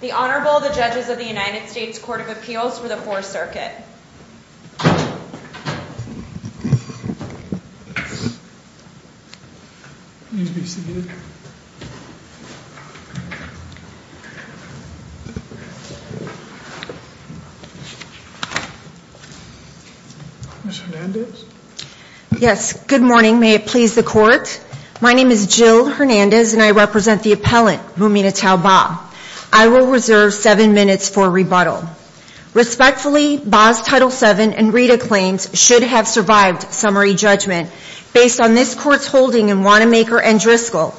The Honorable, the Judges of the United States Court of Appeals for the Fourth Circuit. Ms. Hernandez? Yes. Good morning. May it please the Court? My name is Jill Hernandez and I represent the appellant, Muminatou Bah. I will reserve seven minutes for rebuttal. Respectfully, Bah's Title VII and Rita claims should have survived summary judgment based on this Court's holding in Wanamaker and Driscoll.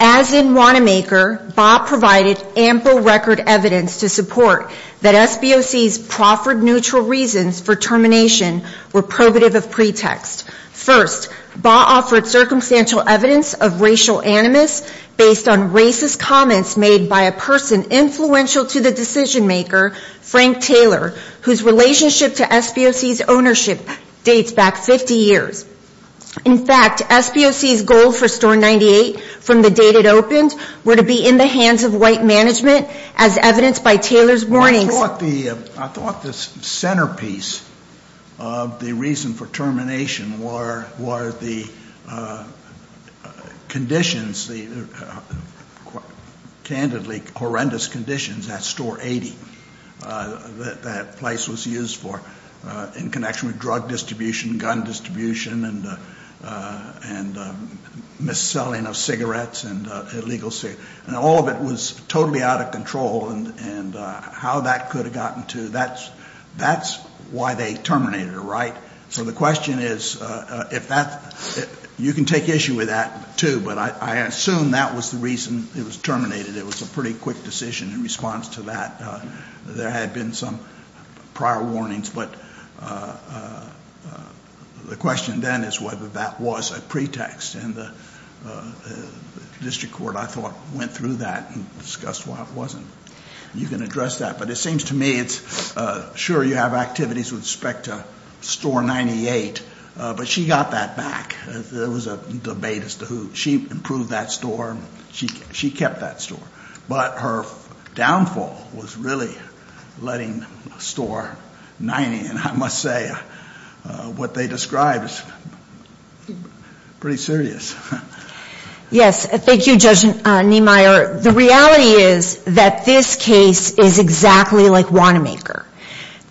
As in Wanamaker, Bah provided ample record evidence to support that SBOC's proffered neutral reasons for termination were probative of pretext. First, Bah offered circumstantial evidence of racial animus based on racist comments made by a person influential to the decision-maker, Frank Taylor, whose relationship to SBOC's ownership dates back 50 years. In fact, SBOC's goal for Store 98 from the date it opened were to be in the hands of white management, as evidenced by Taylor's warnings. I thought the centerpiece of the reason for termination were the conditions, the candidly horrendous conditions at Store 80 that that place was used for in connection with drug distribution, gun distribution, and mis-selling of cigarettes and illegal cigarettes. And all of it was totally out of control, and how that could have gotten to, that's why they terminated her, right? So the question is if that's, you can take issue with that, too, but I assume that was the reason it was terminated. It was a pretty quick decision in response to that. There had been some prior warnings, but the question then is whether that was a pretext, and the district court, I thought, went through that and discussed why it wasn't. You can address that, but it seems to me it's, sure, you have activities with respect to Store 98, but she got that back. There was a debate as to who, she improved that store, she kept that store. But her downfall was really letting Store 90, and I must say what they described is pretty serious. Yes, thank you, Judge Niemeyer. The reality is that this case is exactly like Wanamaker.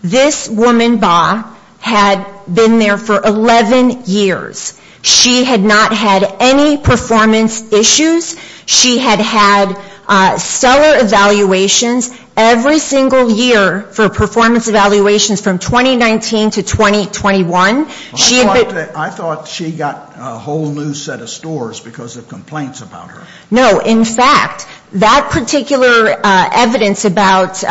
This woman, Ba, had been there for 11 years. She had not had any performance issues. She had had stellar evaluations every single year for performance evaluations from 2019 to 2021. I thought she got a whole new set of stores because of complaints about her. No, in fact, that particular evidence about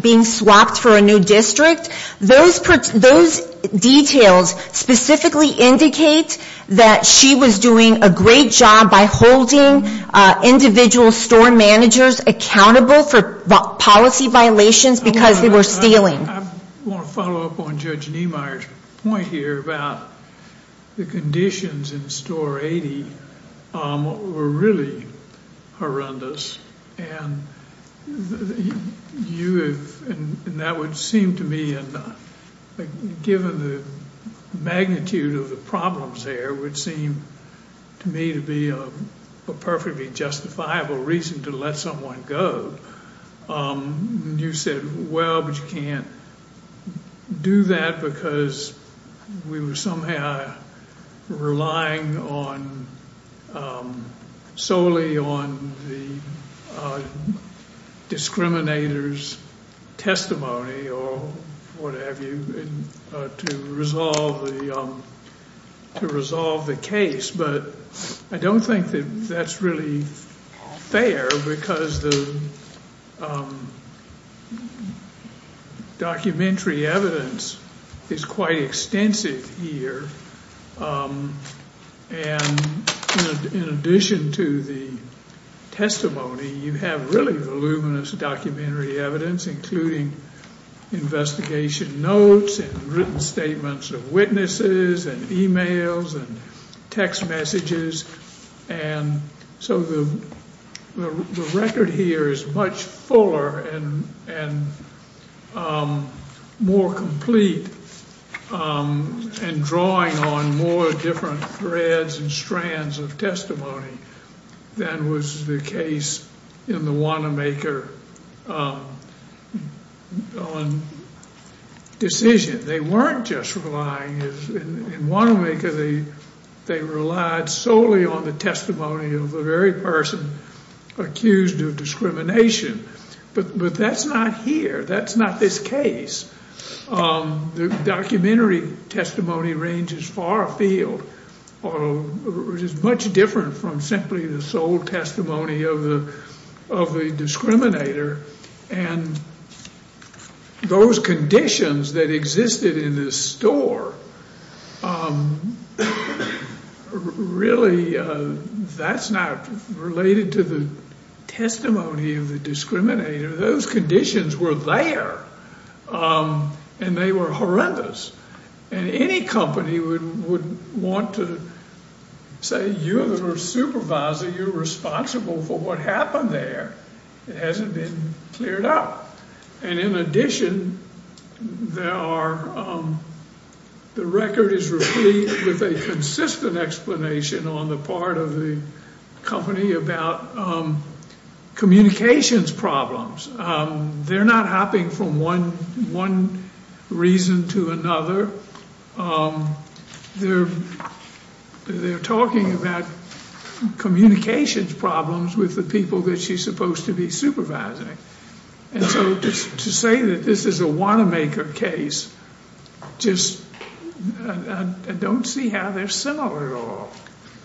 being swapped for a new district, those details specifically indicate that she was doing a great job by holding individual store managers accountable for policy violations because they were stealing. I want to follow up on Judge Niemeyer's point here about the conditions in Store 80 were really horrendous. That would seem to me, given the magnitude of the problems there, would seem to me to be a perfectly justifiable reason to let someone go. You said, well, but you can't do that because we were somehow relying solely on the discriminator's testimony or whatever to resolve the case. But I don't think that that's really fair because the documentary evidence is quite extensive here. And in addition to the testimony, you have really voluminous documentary evidence, including investigation notes and written statements of witnesses and e-mails and text messages. And so the record here is much fuller and more complete and drawing on more different threads and strands of testimony than was the case in the Wanamaker decision. They weren't just relying in Wanamaker. They relied solely on the testimony of the very person accused of discrimination. But that's not here. That's not this case. The documentary testimony ranges far afield, which is much different from simply the sole testimony of the discriminator. And those conditions that existed in this store, really, that's not related to the testimony of the discriminator. Those conditions were there, and they were horrendous. And any company would want to say, you're the supervisor. You're responsible for what happened there. It hasn't been cleared up. And in addition, the record is replete with a consistent explanation on the part of the company about communications problems. They're not hopping from one reason to another. They're talking about communications problems with the people that she's supposed to be supervising. And so to say that this is a Wanamaker case, just I don't see how they're similar at all.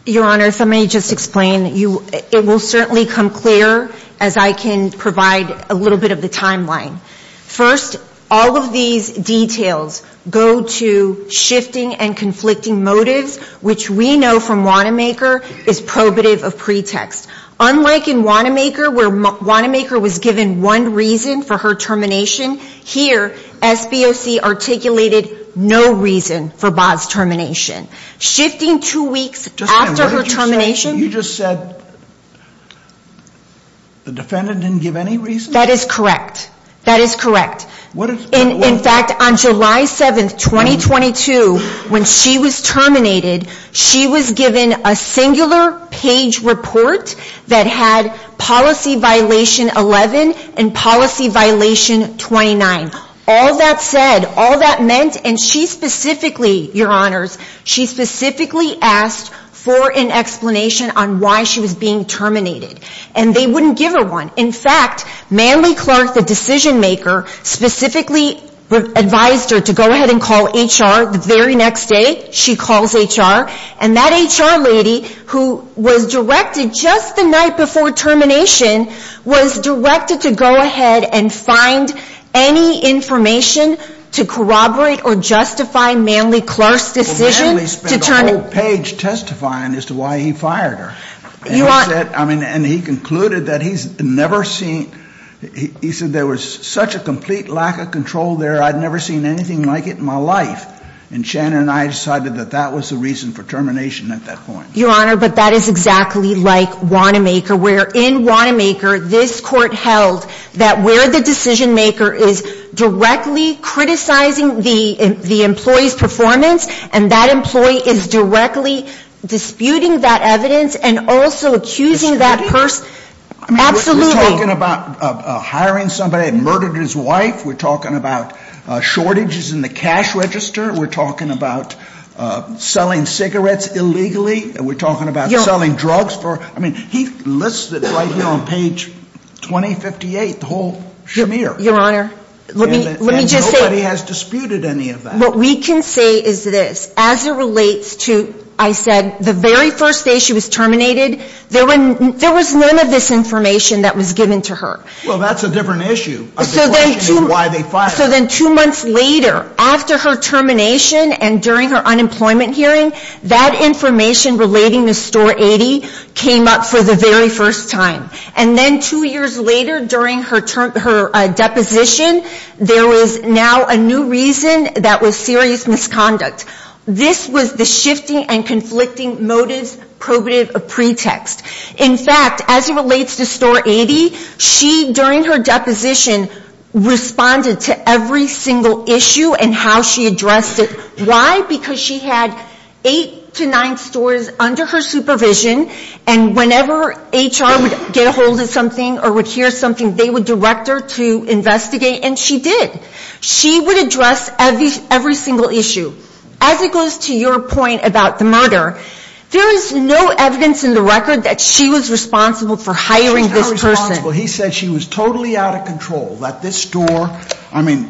Your Honor, if I may just explain. It will certainly come clear as I can provide a little bit of the timeline. First, all of these details go to shifting and conflicting motives, which we know from Wanamaker is probative of pretext. Unlike in Wanamaker, where Wanamaker was given one reason for her termination, here, SBOC articulated no reason for Baugh's termination. Shifting two weeks after her termination. You just said the defendant didn't give any reason? That is correct. That is correct. In fact, on July 7, 2022, when she was terminated, she was given a singular page report that had policy violation 11 and policy violation 29. All that said, all that meant, and she specifically, Your Honors, she specifically asked for an explanation on why she was being terminated. And they wouldn't give her one. In fact, Manley Clark, the decision maker, specifically advised her to go ahead and call HR the very next day. She calls HR. And that HR lady, who was directed just the night before termination, was directed to go ahead and find any information to corroborate or justify Manley Clark's decision. Well, Manley spent a whole page testifying as to why he fired her. And he concluded that he's never seen, he said there was such a complete lack of control there, I'd never seen anything like it in my life. And Shannon and I decided that that was the reason for termination at that point. Your Honor, but that is exactly like Wanamaker, where in Wanamaker, this court held that where the decision maker is directly criticizing the employee's performance, and that employee is directly disputing that evidence and also accusing that person. We're talking about hiring somebody that murdered his wife. We're talking about shortages in the cash register. We're talking about selling cigarettes illegally. We're talking about selling drugs. I mean, he lists it right here on page 2058, the whole schmear. Your Honor, let me just say. And nobody has disputed any of that. What we can say is this. As it relates to, I said, the very first day she was terminated, there was none of this information that was given to her. Well, that's a different issue. I'm just questioning why they fired her. So then two months later, after her termination and during her unemployment hearing, that information relating to Store 80 came up for the very first time. And then two years later, during her deposition, there was now a new reason that was serious misconduct. This was the shifting and conflicting motives probative pretext. In fact, as it relates to Store 80, she, during her deposition, responded to every single issue and how she addressed it. Why? Because she had eight to nine stores under her supervision. And whenever HR would get a hold of something or would hear something, they would direct her to investigate. And she did. She would address every single issue. As it goes to your point about the murder, there is no evidence in the record that she was responsible for hiring this person. He said she was totally out of control. That this store, I mean,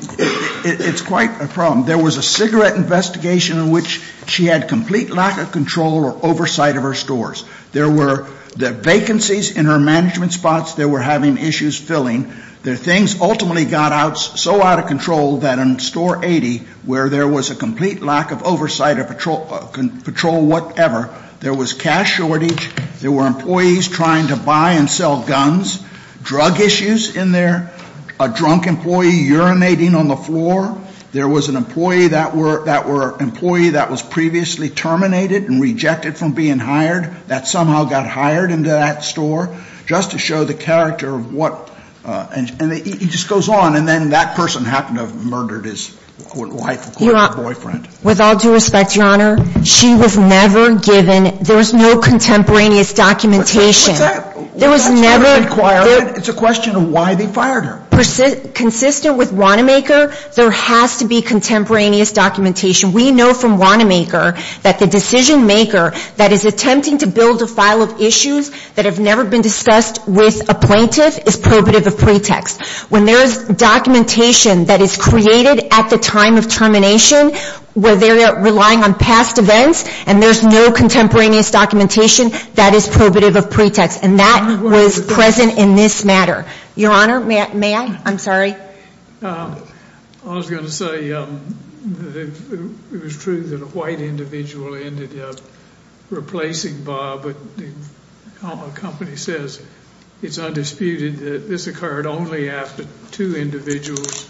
it's quite a problem. There was a cigarette investigation in which she had complete lack of control or oversight of her stores. There were vacancies in her management spots. They were having issues filling. Their things ultimately got out so out of control that in Store 80, where there was a complete lack of oversight of patrol whatever, there was cash shortage. There were employees trying to buy and sell guns. Drug issues in there. A drunk employee urinating on the floor. There was an employee that was previously terminated and rejected from being hired. That somehow got hired into that store. Just to show the character of what, and it just goes on. And then that person happened to have murdered his, quote, wife, quote, boyfriend. With all due respect, Your Honor, she was never given, there was no contemporaneous documentation. What's that? There was never. It's a question of why they fired her. Consistent with Wanamaker, there has to be contemporaneous documentation. We know from Wanamaker that the decision maker that is attempting to build a file of issues that have never been discussed with a plaintiff is probative of pretext. When there is documentation that is created at the time of termination where they're relying on past events and there's no contemporaneous documentation, that is probative of pretext. And that was present in this matter. Your Honor, may I? I'm sorry. I was going to say it was true that a white individual ended up replacing Bob. A company says it's undisputed that this occurred only after two individuals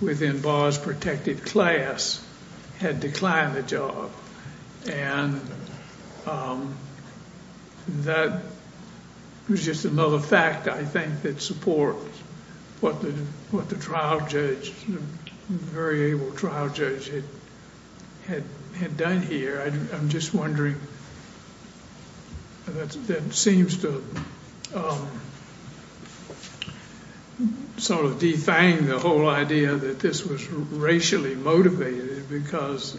within Bob's protected class had declined the job. And that was just another fact, I think, that supports what the trial judge, the very able trial judge, had done here. I'm just wondering, that seems to sort of defang the whole idea that this was racially motivated because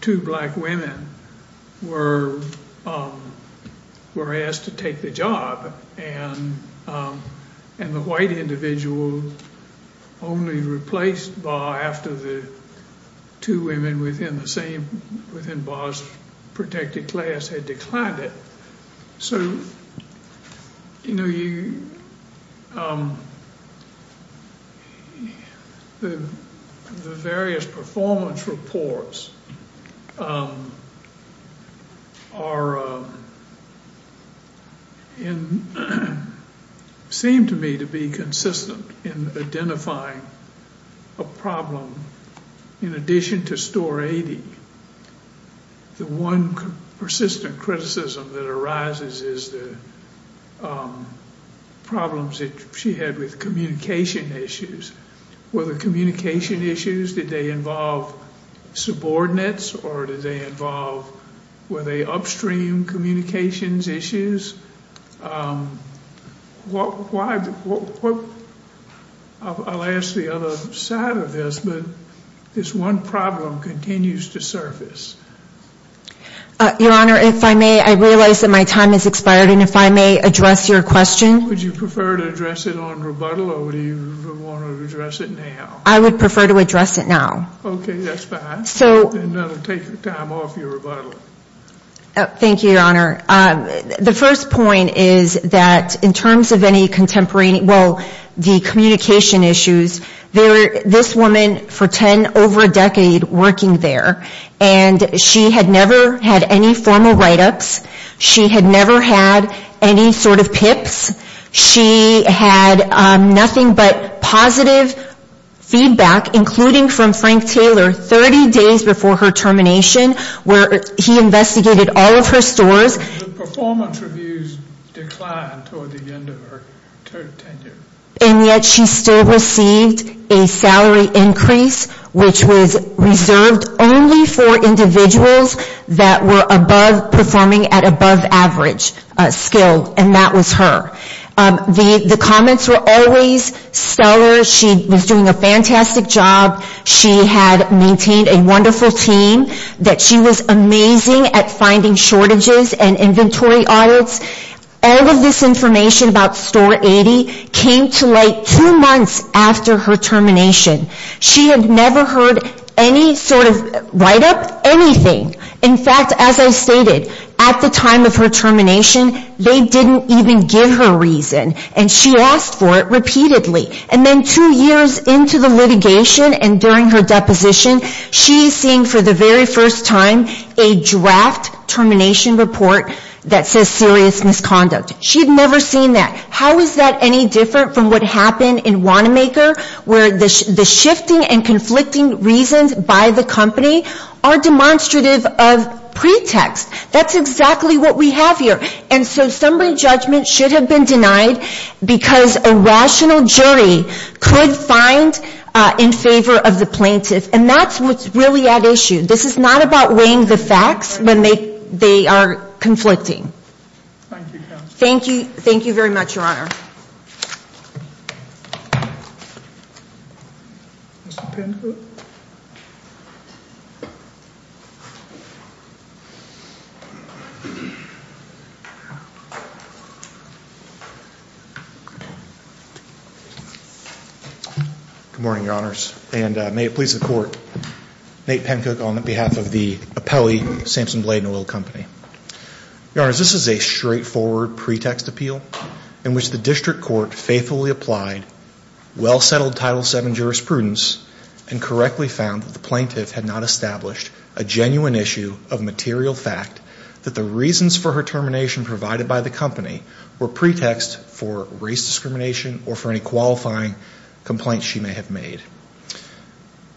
two black women were asked to take the job. And the white individual only replaced Bob after the two women within Bob's protected class had declined it. So, you know, the various performance reports seem to me to be consistent in identifying a problem. In addition to Store 80, the one persistent criticism that arises is the problems that she had with communication issues. Were the communication issues, did they involve subordinates or did they involve, were they upstream communications issues? I'll ask the other side of this, but this one problem continues to surface. Your Honor, if I may, I realize that my time has expired and if I may address your question. Would you prefer to address it on rebuttal or would you want to address it now? I would prefer to address it now. Okay, that's fine. So. Then I'll take the time off your rebuttal. Thank you, Your Honor. The first point is that in terms of any contemporary, well, the communication issues, this woman for 10 over a decade working there and she had never had any formal write-ups. She had never had any sort of pips. She had nothing but positive feedback, including from Frank Taylor 30 days before her termination where he investigated all of her stores. The performance reviews declined toward the end of her tenure. And yet she still received a salary increase which was reserved only for individuals that were above, performing at above average skill and that was her. The comments were always stellar. She was doing a fantastic job. She had maintained a wonderful team. That she was amazing at finding shortages and inventory audits. All of this information about Store 80 came to light two months after her termination. She had never heard any sort of write-up, anything. In fact, as I stated, at the time of her termination, they didn't even give her reason. And she asked for it repeatedly. And then two years into the litigation and during her deposition, she is seeing for the very first time a draft termination report that says serious misconduct. She had never seen that. How is that any different from what happened in Wanamaker where the shifting and conflicting reasons by the company are demonstrative of pretext? That's exactly what we have here. And so summary judgment should have been denied because a rational jury could find in favor of the plaintiff. And that's what's really at issue. This is not about weighing the facts when they are conflicting. Thank you, Counsel. Thank you. Thank you very much, Your Honor. Mr. Pencook. Good morning, Your Honors, and may it please the Court, Nate Pencook on behalf of the Apelli Sampson Blade & Oil Company. Your Honors, this is a straightforward pretext appeal in which the district court faithfully applied well-settled Title VII jurisprudence and correctly found that the plaintiff had not established a genuine issue of material fact that the reasons for her termination provided by the company were pretext for race discrimination or for any qualifying complaints she may have made.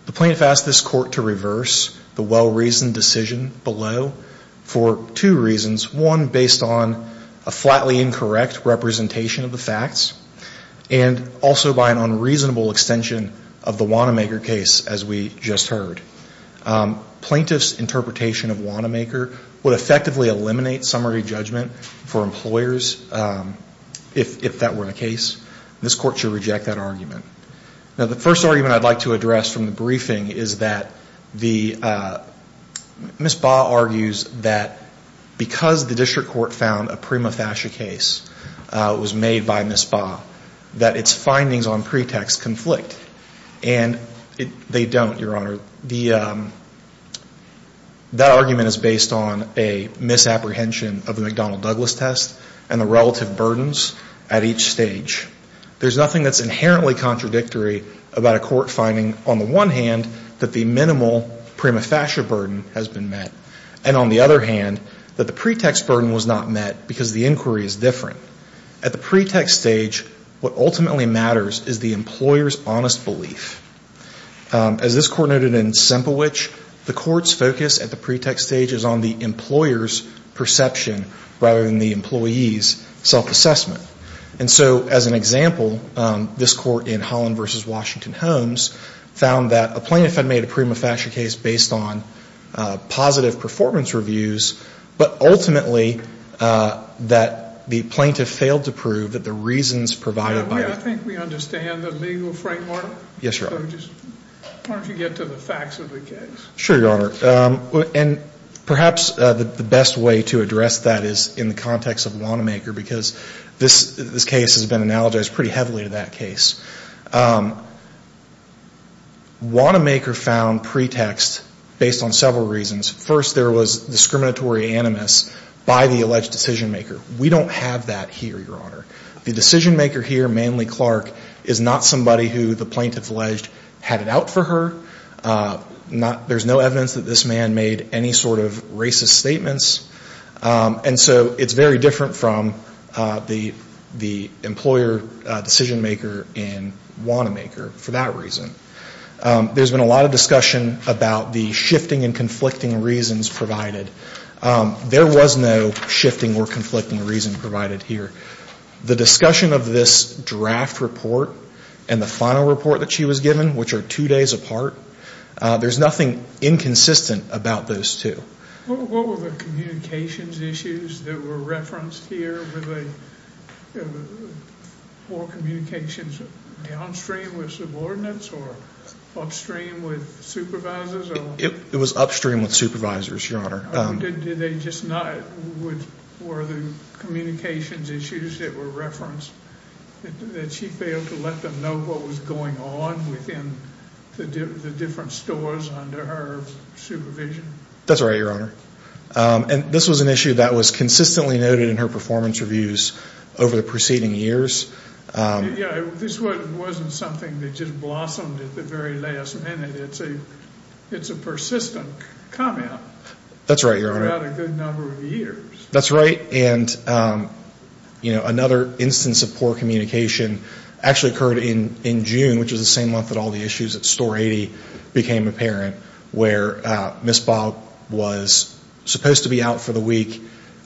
The plaintiff asked this court to reverse the well-reasoned decision below for two reasons. One, based on a flatly incorrect representation of the facts and also by an unreasonable extension of the Wanamaker case as we just heard. Plaintiff's interpretation of Wanamaker would effectively eliminate summary judgment for employers if that were the case. This court should reject that argument. Now, the first argument I'd like to address from the briefing is that the, Ms. Baugh argues that because the district court found a prima facie case was made by Ms. Baugh, that its findings on pretext conflict. And they don't, Your Honor. That argument is based on a misapprehension of the McDonnell-Douglas test and the relative burdens at each stage. There's nothing that's inherently contradictory about a court finding, on the one hand, that the minimal prima facie burden has been met. And on the other hand, that the pretext burden was not met because the inquiry is different. At the pretext stage, what ultimately matters is the employer's honest belief. As this court noted in Semplewich, the court's focus at the pretext stage is on the employer's perception rather than the employee's self-assessment. And so, as an example, this court in Holland v. Washington-Holmes found that a plaintiff had made a prima facie case based on positive performance reviews, but ultimately that the plaintiff failed to prove that the reasons provided by the... I think we understand the legal framework. Yes, Your Honor. Why don't you get to the facts of the case. Sure, Your Honor. And perhaps the best way to address that is in the context of Wanamaker because this case has been analogized pretty heavily to that case. Wanamaker found pretext based on several reasons. First, there was discriminatory animus by the alleged decision-maker. We don't have that here, Your Honor. The decision-maker here, Manly Clark, is not somebody who the plaintiff alleged had it out for her. There's no evidence that this man made any sort of racist statements. And so it's very different from the employer decision-maker in Wanamaker for that reason. There's been a lot of discussion about the shifting and conflicting reasons provided. There was no shifting or conflicting reason provided here. The discussion of this draft report and the final report that she was given, which are two days apart, there's nothing inconsistent about those two. What were the communications issues that were referenced here? Were communications downstream with subordinates or upstream with supervisors? It was upstream with supervisors, Your Honor. Did they just not? Were the communications issues that were referenced that she failed to let them know what was going on within the different stores under her supervision? That's right, Your Honor. And this was an issue that was consistently noted in her performance reviews over the preceding years. Yeah, this wasn't something that just blossomed at the very last minute. It's a persistent comment. That's right, Your Honor. Throughout a good number of years. That's right. And, you know, another instance of poor communication actually occurred in June, which was the same month that all the issues at Store 80 became apparent, where Ms. Baugh was supposed to be out for the week,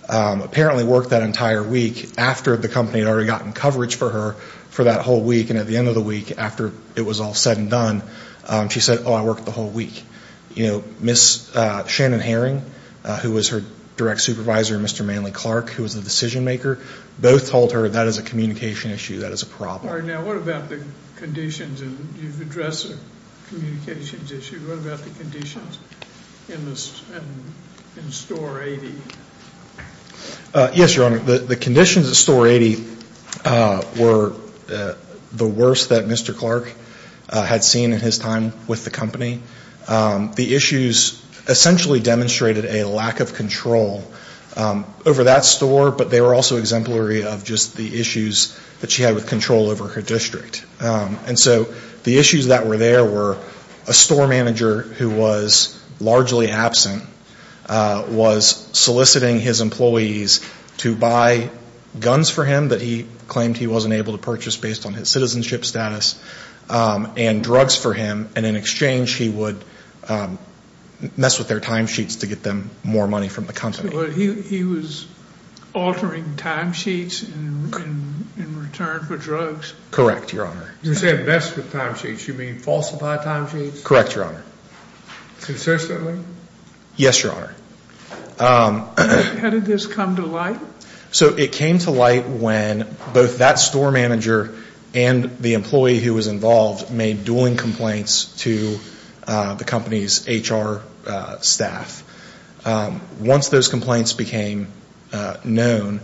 apparently worked that entire week after the company had already gotten coverage for her for that whole week, and at the end of the week after it was all said and done, she said, oh, I worked the whole week. You know, Ms. Shannon Herring, who was her direct supervisor, and Mr. Manley Clark, who was the decision maker, both told her that is a communication issue, that is a problem. All right, now what about the conditions? You've addressed a communications issue. What about the conditions in Store 80? Yes, Your Honor. The conditions at Store 80 were the worst that Mr. Clark had seen in his time with the company. The issues essentially demonstrated a lack of control over that store, but they were also exemplary of just the issues that she had with control over her district. And so the issues that were there were a store manager who was largely absent was soliciting his employees to buy guns for him that he claimed he wasn't able to purchase based on his citizenship status, and drugs for him, and in exchange he would mess with their time sheets to get them more money from the company. He was altering time sheets in return for drugs? Correct, Your Honor. You said mess with time sheets. You mean falsify time sheets? Correct, Your Honor. Consistently? Yes, Your Honor. How did this come to light? So it came to light when both that store manager and the employee who was involved made dueling complaints to the company's HR staff. Once those complaints became known,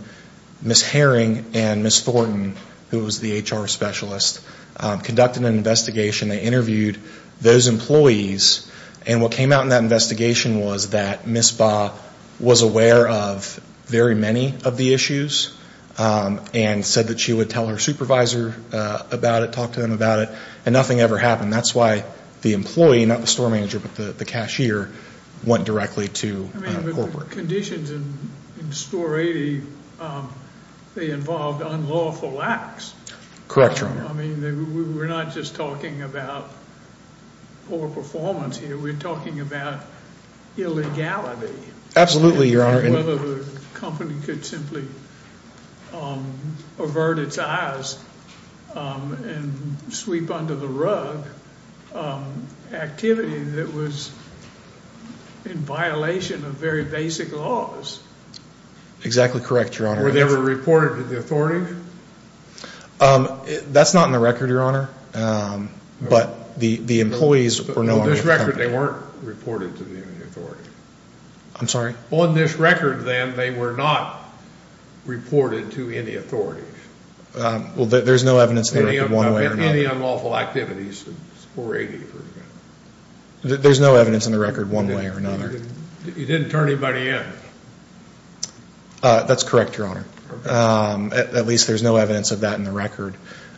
Ms. Herring and Ms. Thornton, who was the HR specialist, conducted an investigation. They interviewed those employees, and what came out in that investigation was that Ms. Baugh was aware of very many of the issues and said that she would tell her supervisor about it, talk to them about it, and nothing ever happened. That's why the employee, not the store manager, but the cashier, went directly to corporate. But the conditions in Store 80, they involved unlawful acts. Correct, Your Honor. I mean, we're not just talking about poor performance here. We're talking about illegality. Absolutely, Your Honor. Whether the company could simply avert its eyes and sweep under the rug activity that was in violation of very basic laws. Exactly correct, Your Honor. Were they ever reported to the authorities? That's not in the record, Your Honor. But the employees were known to the company. On this record, they weren't reported to the authority. I'm sorry? On this record, then, they were not reported to any authorities. Well, there's no evidence in the record one way or another. Any unlawful activities in Store 80, for example. There's no evidence in the record one way or another. You didn't turn anybody in. That's correct, Your Honor. At least there's no evidence of that in the record.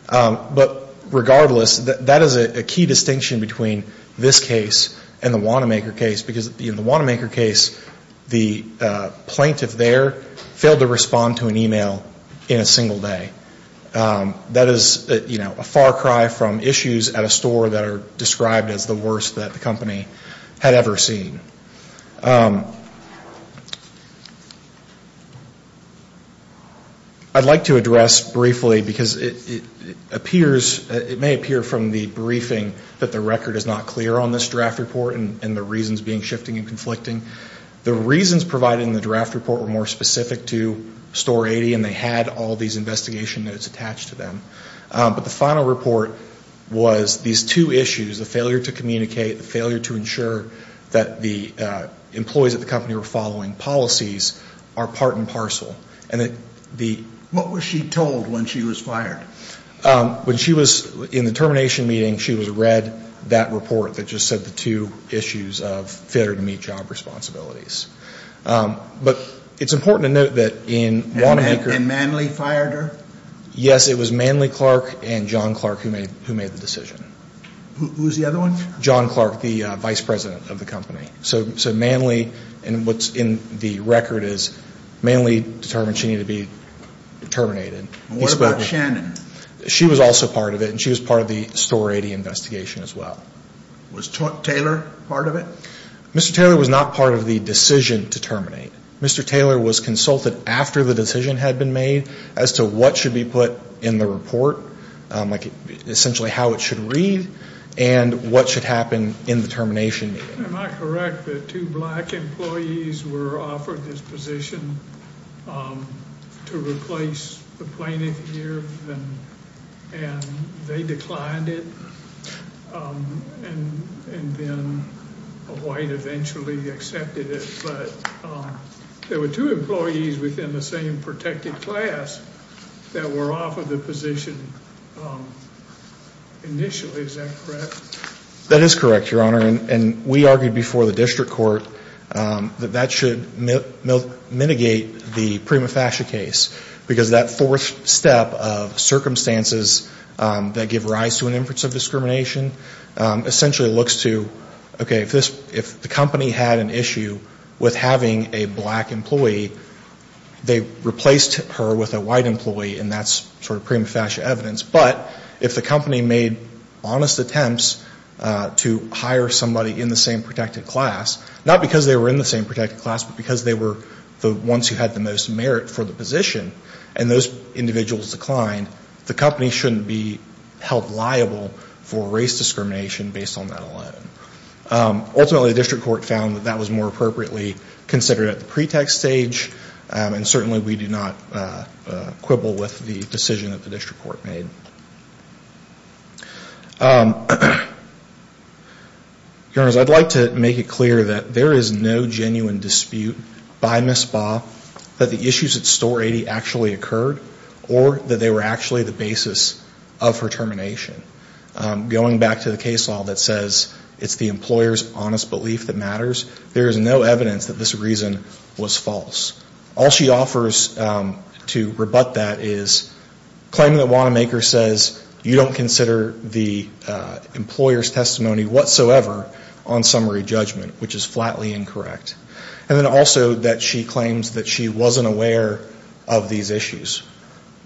But regardless, that is a key distinction between this case and the Wanamaker case because in the Wanamaker case, the plaintiff there failed to respond to an email in a single day. That is a far cry from issues at a store that are described as the worst that the company had ever seen. I'd like to address briefly, because it may appear from the briefing that the record is not clear on this draft report and the reasons being shifting and conflicting. The reasons provided in the draft report were more specific to Store 80, and they had all these investigation notes attached to them. But the final report was these two issues, the failure to communicate, the failure to ensure that the employees at the company were following policies, are part and parcel. What was she told when she was fired? When she was in the termination meeting, she was read that report that just said the two issues of failure to meet job responsibilities. But it's important to note that in Wanamaker. And Manley fired her? Yes, it was Manley Clark and John Clark who made the decision. Who was the other one? John Clark, the vice president of the company. So Manley, and what's in the record is Manley determined she needed to be terminated. And what about Shannon? She was also part of it, and she was part of the Store 80 investigation as well. Was Taylor part of it? Mr. Taylor was not part of the decision to terminate. Mr. Taylor was consulted after the decision had been made as to what should be put in the report, like essentially how it should read, and what should happen in the termination meeting. Am I correct that two black employees were offered this position to replace the plaintiff here, and they declined it, and then a white eventually accepted it? But there were two employees within the same protected class that were offered the position initially. Is that correct? That is correct, Your Honor. And we argued before the district court that that should mitigate the prima facie case, because that fourth step of circumstances that give rise to an inference of discrimination essentially looks to, okay, if the company had an issue with having a black employee, they replaced her with a white employee, and that's sort of prima facie evidence. But if the company made honest attempts to hire somebody in the same protected class, not because they were in the same protected class, but because they were the ones who had the most merit for the position, and those individuals declined, the company shouldn't be held liable for race discrimination based on that alone. Ultimately, the district court found that that was more appropriately considered at the pretext stage, and certainly we do not quibble with the decision that the district court made. Your Honors, I'd like to make it clear that there is no genuine dispute by Ms. Baugh that the issues at Store 80 actually occurred or that they were actually the basis of her termination. Going back to the case law that says it's the employer's honest belief that matters, there is no evidence that this reason was false. All she offers to rebut that is claiming that Wanamaker says you don't consider the employer's testimony whatsoever on summary judgment, which is flatly incorrect. And then also that she claims that she wasn't aware of these issues.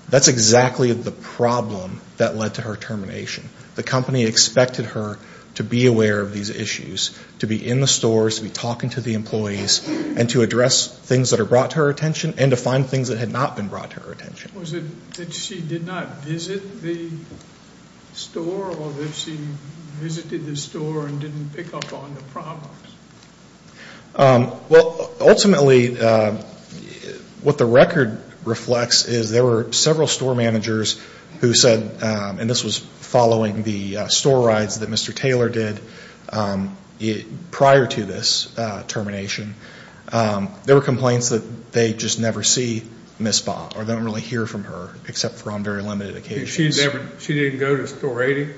That's exactly the problem that led to her termination. The company expected her to be aware of these issues, to be in the stores, to be talking to the employees, and to address things that are brought to her attention and to find things that had not been brought to her attention. Was it that she did not visit the store or that she visited the store and didn't pick up on the problems? Well, ultimately what the record reflects is there were several store managers who said, and this was following the store rides that Mr. Taylor did prior to this termination, there were complaints that they just never see Miss Baugh or don't really hear from her except for on very limited occasions. She didn't go to Store 80?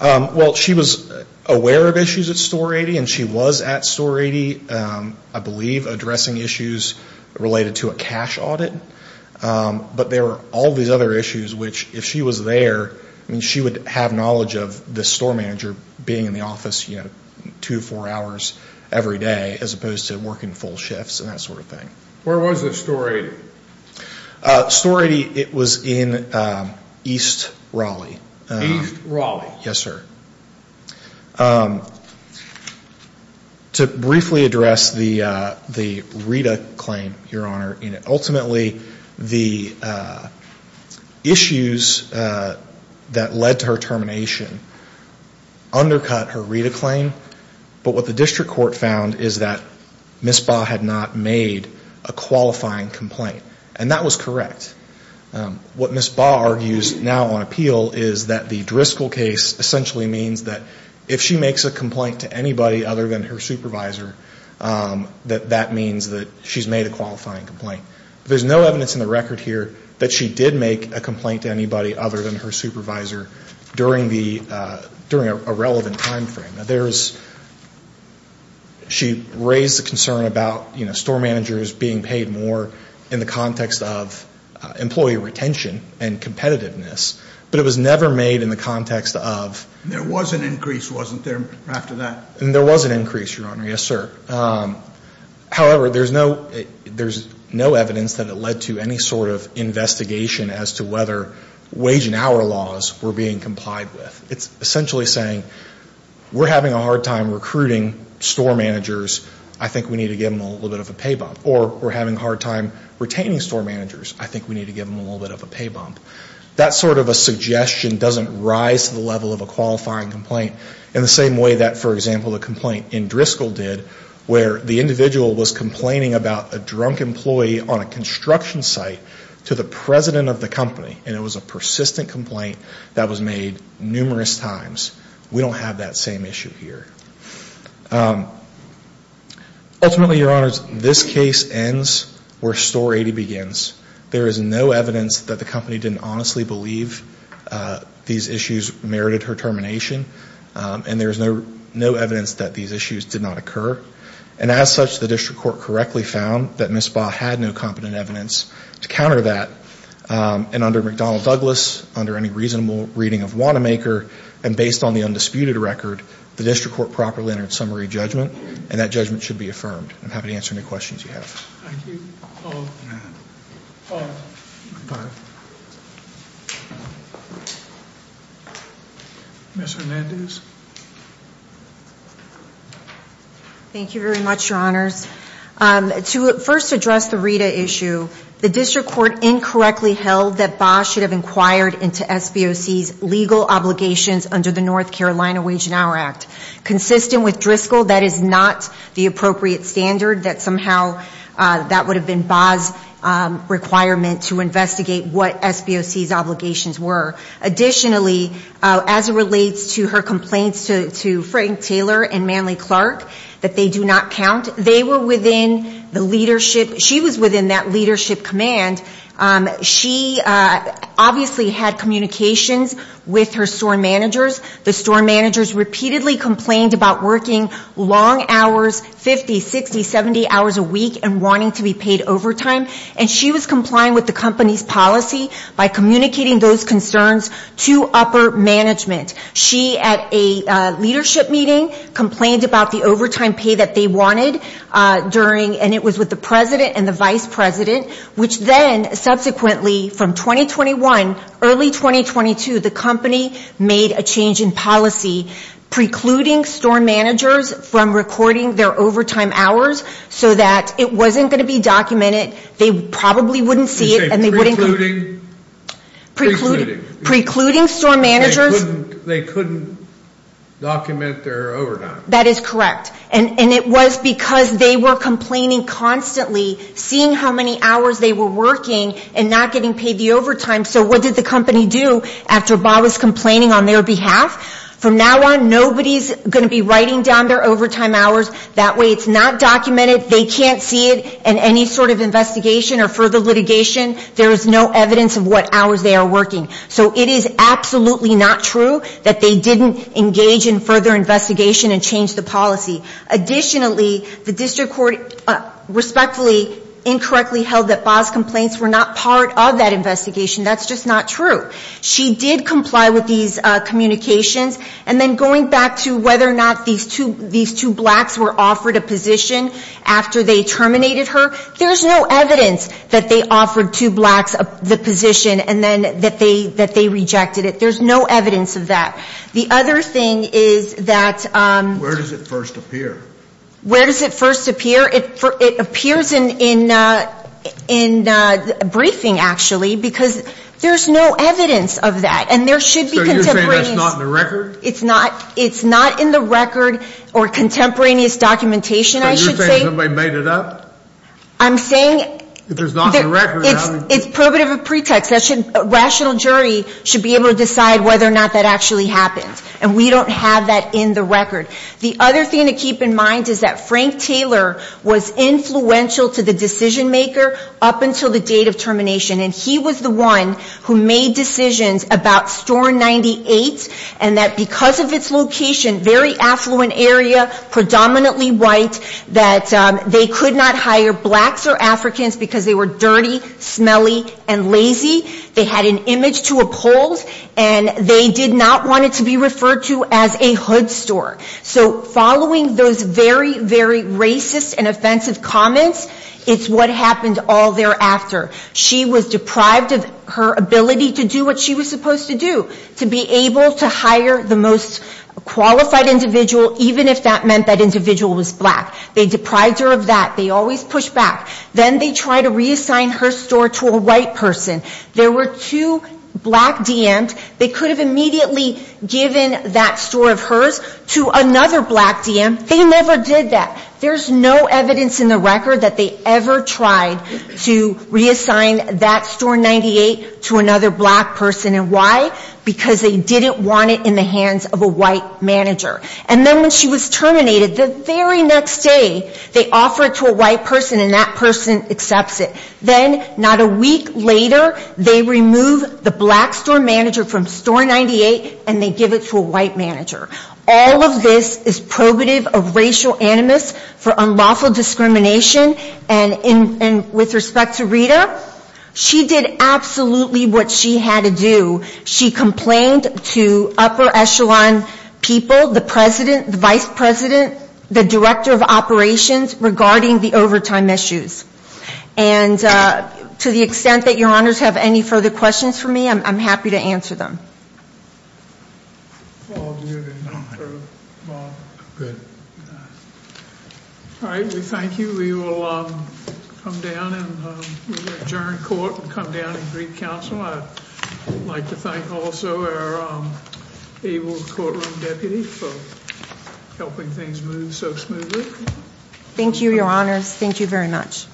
Well, she was aware of issues at Store 80 and she was at Store 80, I believe, addressing issues related to a cash audit. But there were all these other issues which, if she was there, she would have knowledge of the store manager being in the office two or four hours every day as opposed to working full shifts and that sort of thing. Where was the Store 80? Store 80, it was in East Raleigh. East Raleigh. Yes, sir. To briefly address the Rita claim, Your Honor, ultimately the issues that led to her termination undercut her Rita claim, but what the district court found is that Miss Baugh had not made a qualifying complaint, and that was correct. What Miss Baugh argues now on appeal is that the Driscoll case essentially means that if she makes a complaint to anybody other than her supervisor, that that means that she's made a qualifying complaint. There's no evidence in the record here that she did make a complaint to anybody other than her supervisor during a relevant time frame. She raised a concern about store managers being paid more in the context of employee retention and competitiveness, but it was never made in the context of. There was an increase, wasn't there, after that? There was an increase, Your Honor. Yes, sir. However, there's no evidence that it led to any sort of investigation as to whether wage and hour laws were being complied with. It's essentially saying we're having a hard time recruiting store managers. I think we need to give them a little bit of a pay bump, or we're having a hard time retaining store managers. I think we need to give them a little bit of a pay bump. That sort of a suggestion doesn't rise to the level of a qualifying complaint in the same way that, for example, the complaint in Driscoll did, where the individual was complaining about a drunk employee on a construction site to the president of the company, and it was a persistent complaint that was made numerous times. We don't have that same issue here. Ultimately, Your Honors, this case ends where Store 80 begins. There is no evidence that the company didn't honestly believe these issues merited her termination, and there is no evidence that these issues did not occur. As such, the district court correctly found that Ms. Baugh had no competent evidence to counter that. Under McDonnell Douglas, under any reasonable reading of Wanamaker, and based on the undisputed record, the district court properly entered summary judgment, and that judgment should be affirmed. I'm happy to answer any questions you have. Thank you. All rise. Ms. Hernandez. Thank you very much, Your Honors. To first address the RITA issue, the district court incorrectly held that Baugh should have inquired into SBOC's legal obligations under the North Carolina Wage and Hour Act. Consistent with Driscoll, that is not the appropriate standard, that somehow that would have been Baugh's requirement to investigate what SBOC's obligations were. Additionally, as it relates to her complaints to Frank Taylor and Manley Clark, that they do not count, they were within the leadership. She was within that leadership command. She obviously had communications with her store managers. The store managers repeatedly complained about working long hours, 50, 60, 70 hours a week, and wanting to be paid overtime, and she was complying with the company's policy by communicating those concerns to upper management. She, at a leadership meeting, complained about the overtime pay that they wanted during, and it was with the president and the vice president, which then subsequently, from 2021, early 2022, the company made a change in policy, precluding store managers from recording their overtime hours so that it wasn't going to be documented. They probably wouldn't see it, and they wouldn't. You say precluding? Precluding. Precluding store managers. They couldn't document their overtime. That is correct. And it was because they were complaining constantly, seeing how many hours they were working and not getting paid the overtime. So what did the company do after Bob was complaining on their behalf? From now on, nobody's going to be writing down their overtime hours. That way it's not documented. They can't see it in any sort of investigation or further litigation. There is no evidence of what hours they are working. So it is absolutely not true that they didn't engage in further investigation and change the policy. Additionally, the district court respectfully incorrectly held that Bob's complaints were not part of that investigation. That's just not true. She did comply with these communications. And then going back to whether or not these two blacks were offered a position after they terminated her, there's no evidence that they offered two blacks the position and then that they rejected it. There's no evidence of that. The other thing is that — Where does it first appear? Where does it first appear? It appears in briefing, actually, because there's no evidence of that. And there should be contemporaneous — So you're saying that's not in the record? It's not in the record or contemporaneous documentation, I should say. Somebody made it up? I'm saying — If it's not in the record, how do you — It's probative of pretext. A rational jury should be able to decide whether or not that actually happened. And we don't have that in the record. The other thing to keep in mind is that Frank Taylor was influential to the decision-maker up until the date of termination. And he was the one who made decisions about Store 98 and that because of its location, very affluent area, predominantly white, that they could not hire blacks or Africans because they were dirty, smelly, and lazy. They had an image to uphold. And they did not want it to be referred to as a hood store. So following those very, very racist and offensive comments, it's what happened all thereafter. She was deprived of her ability to do what she was supposed to do, to be able to hire the most qualified individual, even if that meant that individual was black. They deprived her of that. They always pushed back. Then they tried to reassign her store to a white person. There were two black DMs. They could have immediately given that store of hers to another black DM. They never did that. There's no evidence in the record that they ever tried to reassign that Store 98 to another black person. And why? Because they didn't want it in the hands of a white manager. And then when she was terminated, the very next day, they offer it to a white person and that person accepts it. Then not a week later, they remove the black Store Manager from Store 98 and they give it to a white manager. All of this is probative of racial animus for unlawful discrimination. And with respect to Rita, she did absolutely what she had to do. She complained to upper echelon people, the President, the Vice President, the Director of Operations regarding the overtime issues. And to the extent that your honors have any further questions for me, I'm happy to answer them. Paul, do you have anything for Bob? Go ahead. All right, we thank you. We will come down and adjourn court and come down and brief counsel. I'd like to thank also our able courtroom deputy for helping things move so smoothly. Thank you, your honors. Thank you very much.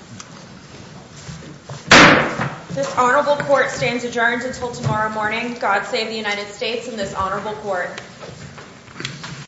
This honorable court stands adjourned until tomorrow morning. God save the United States and this honorable court.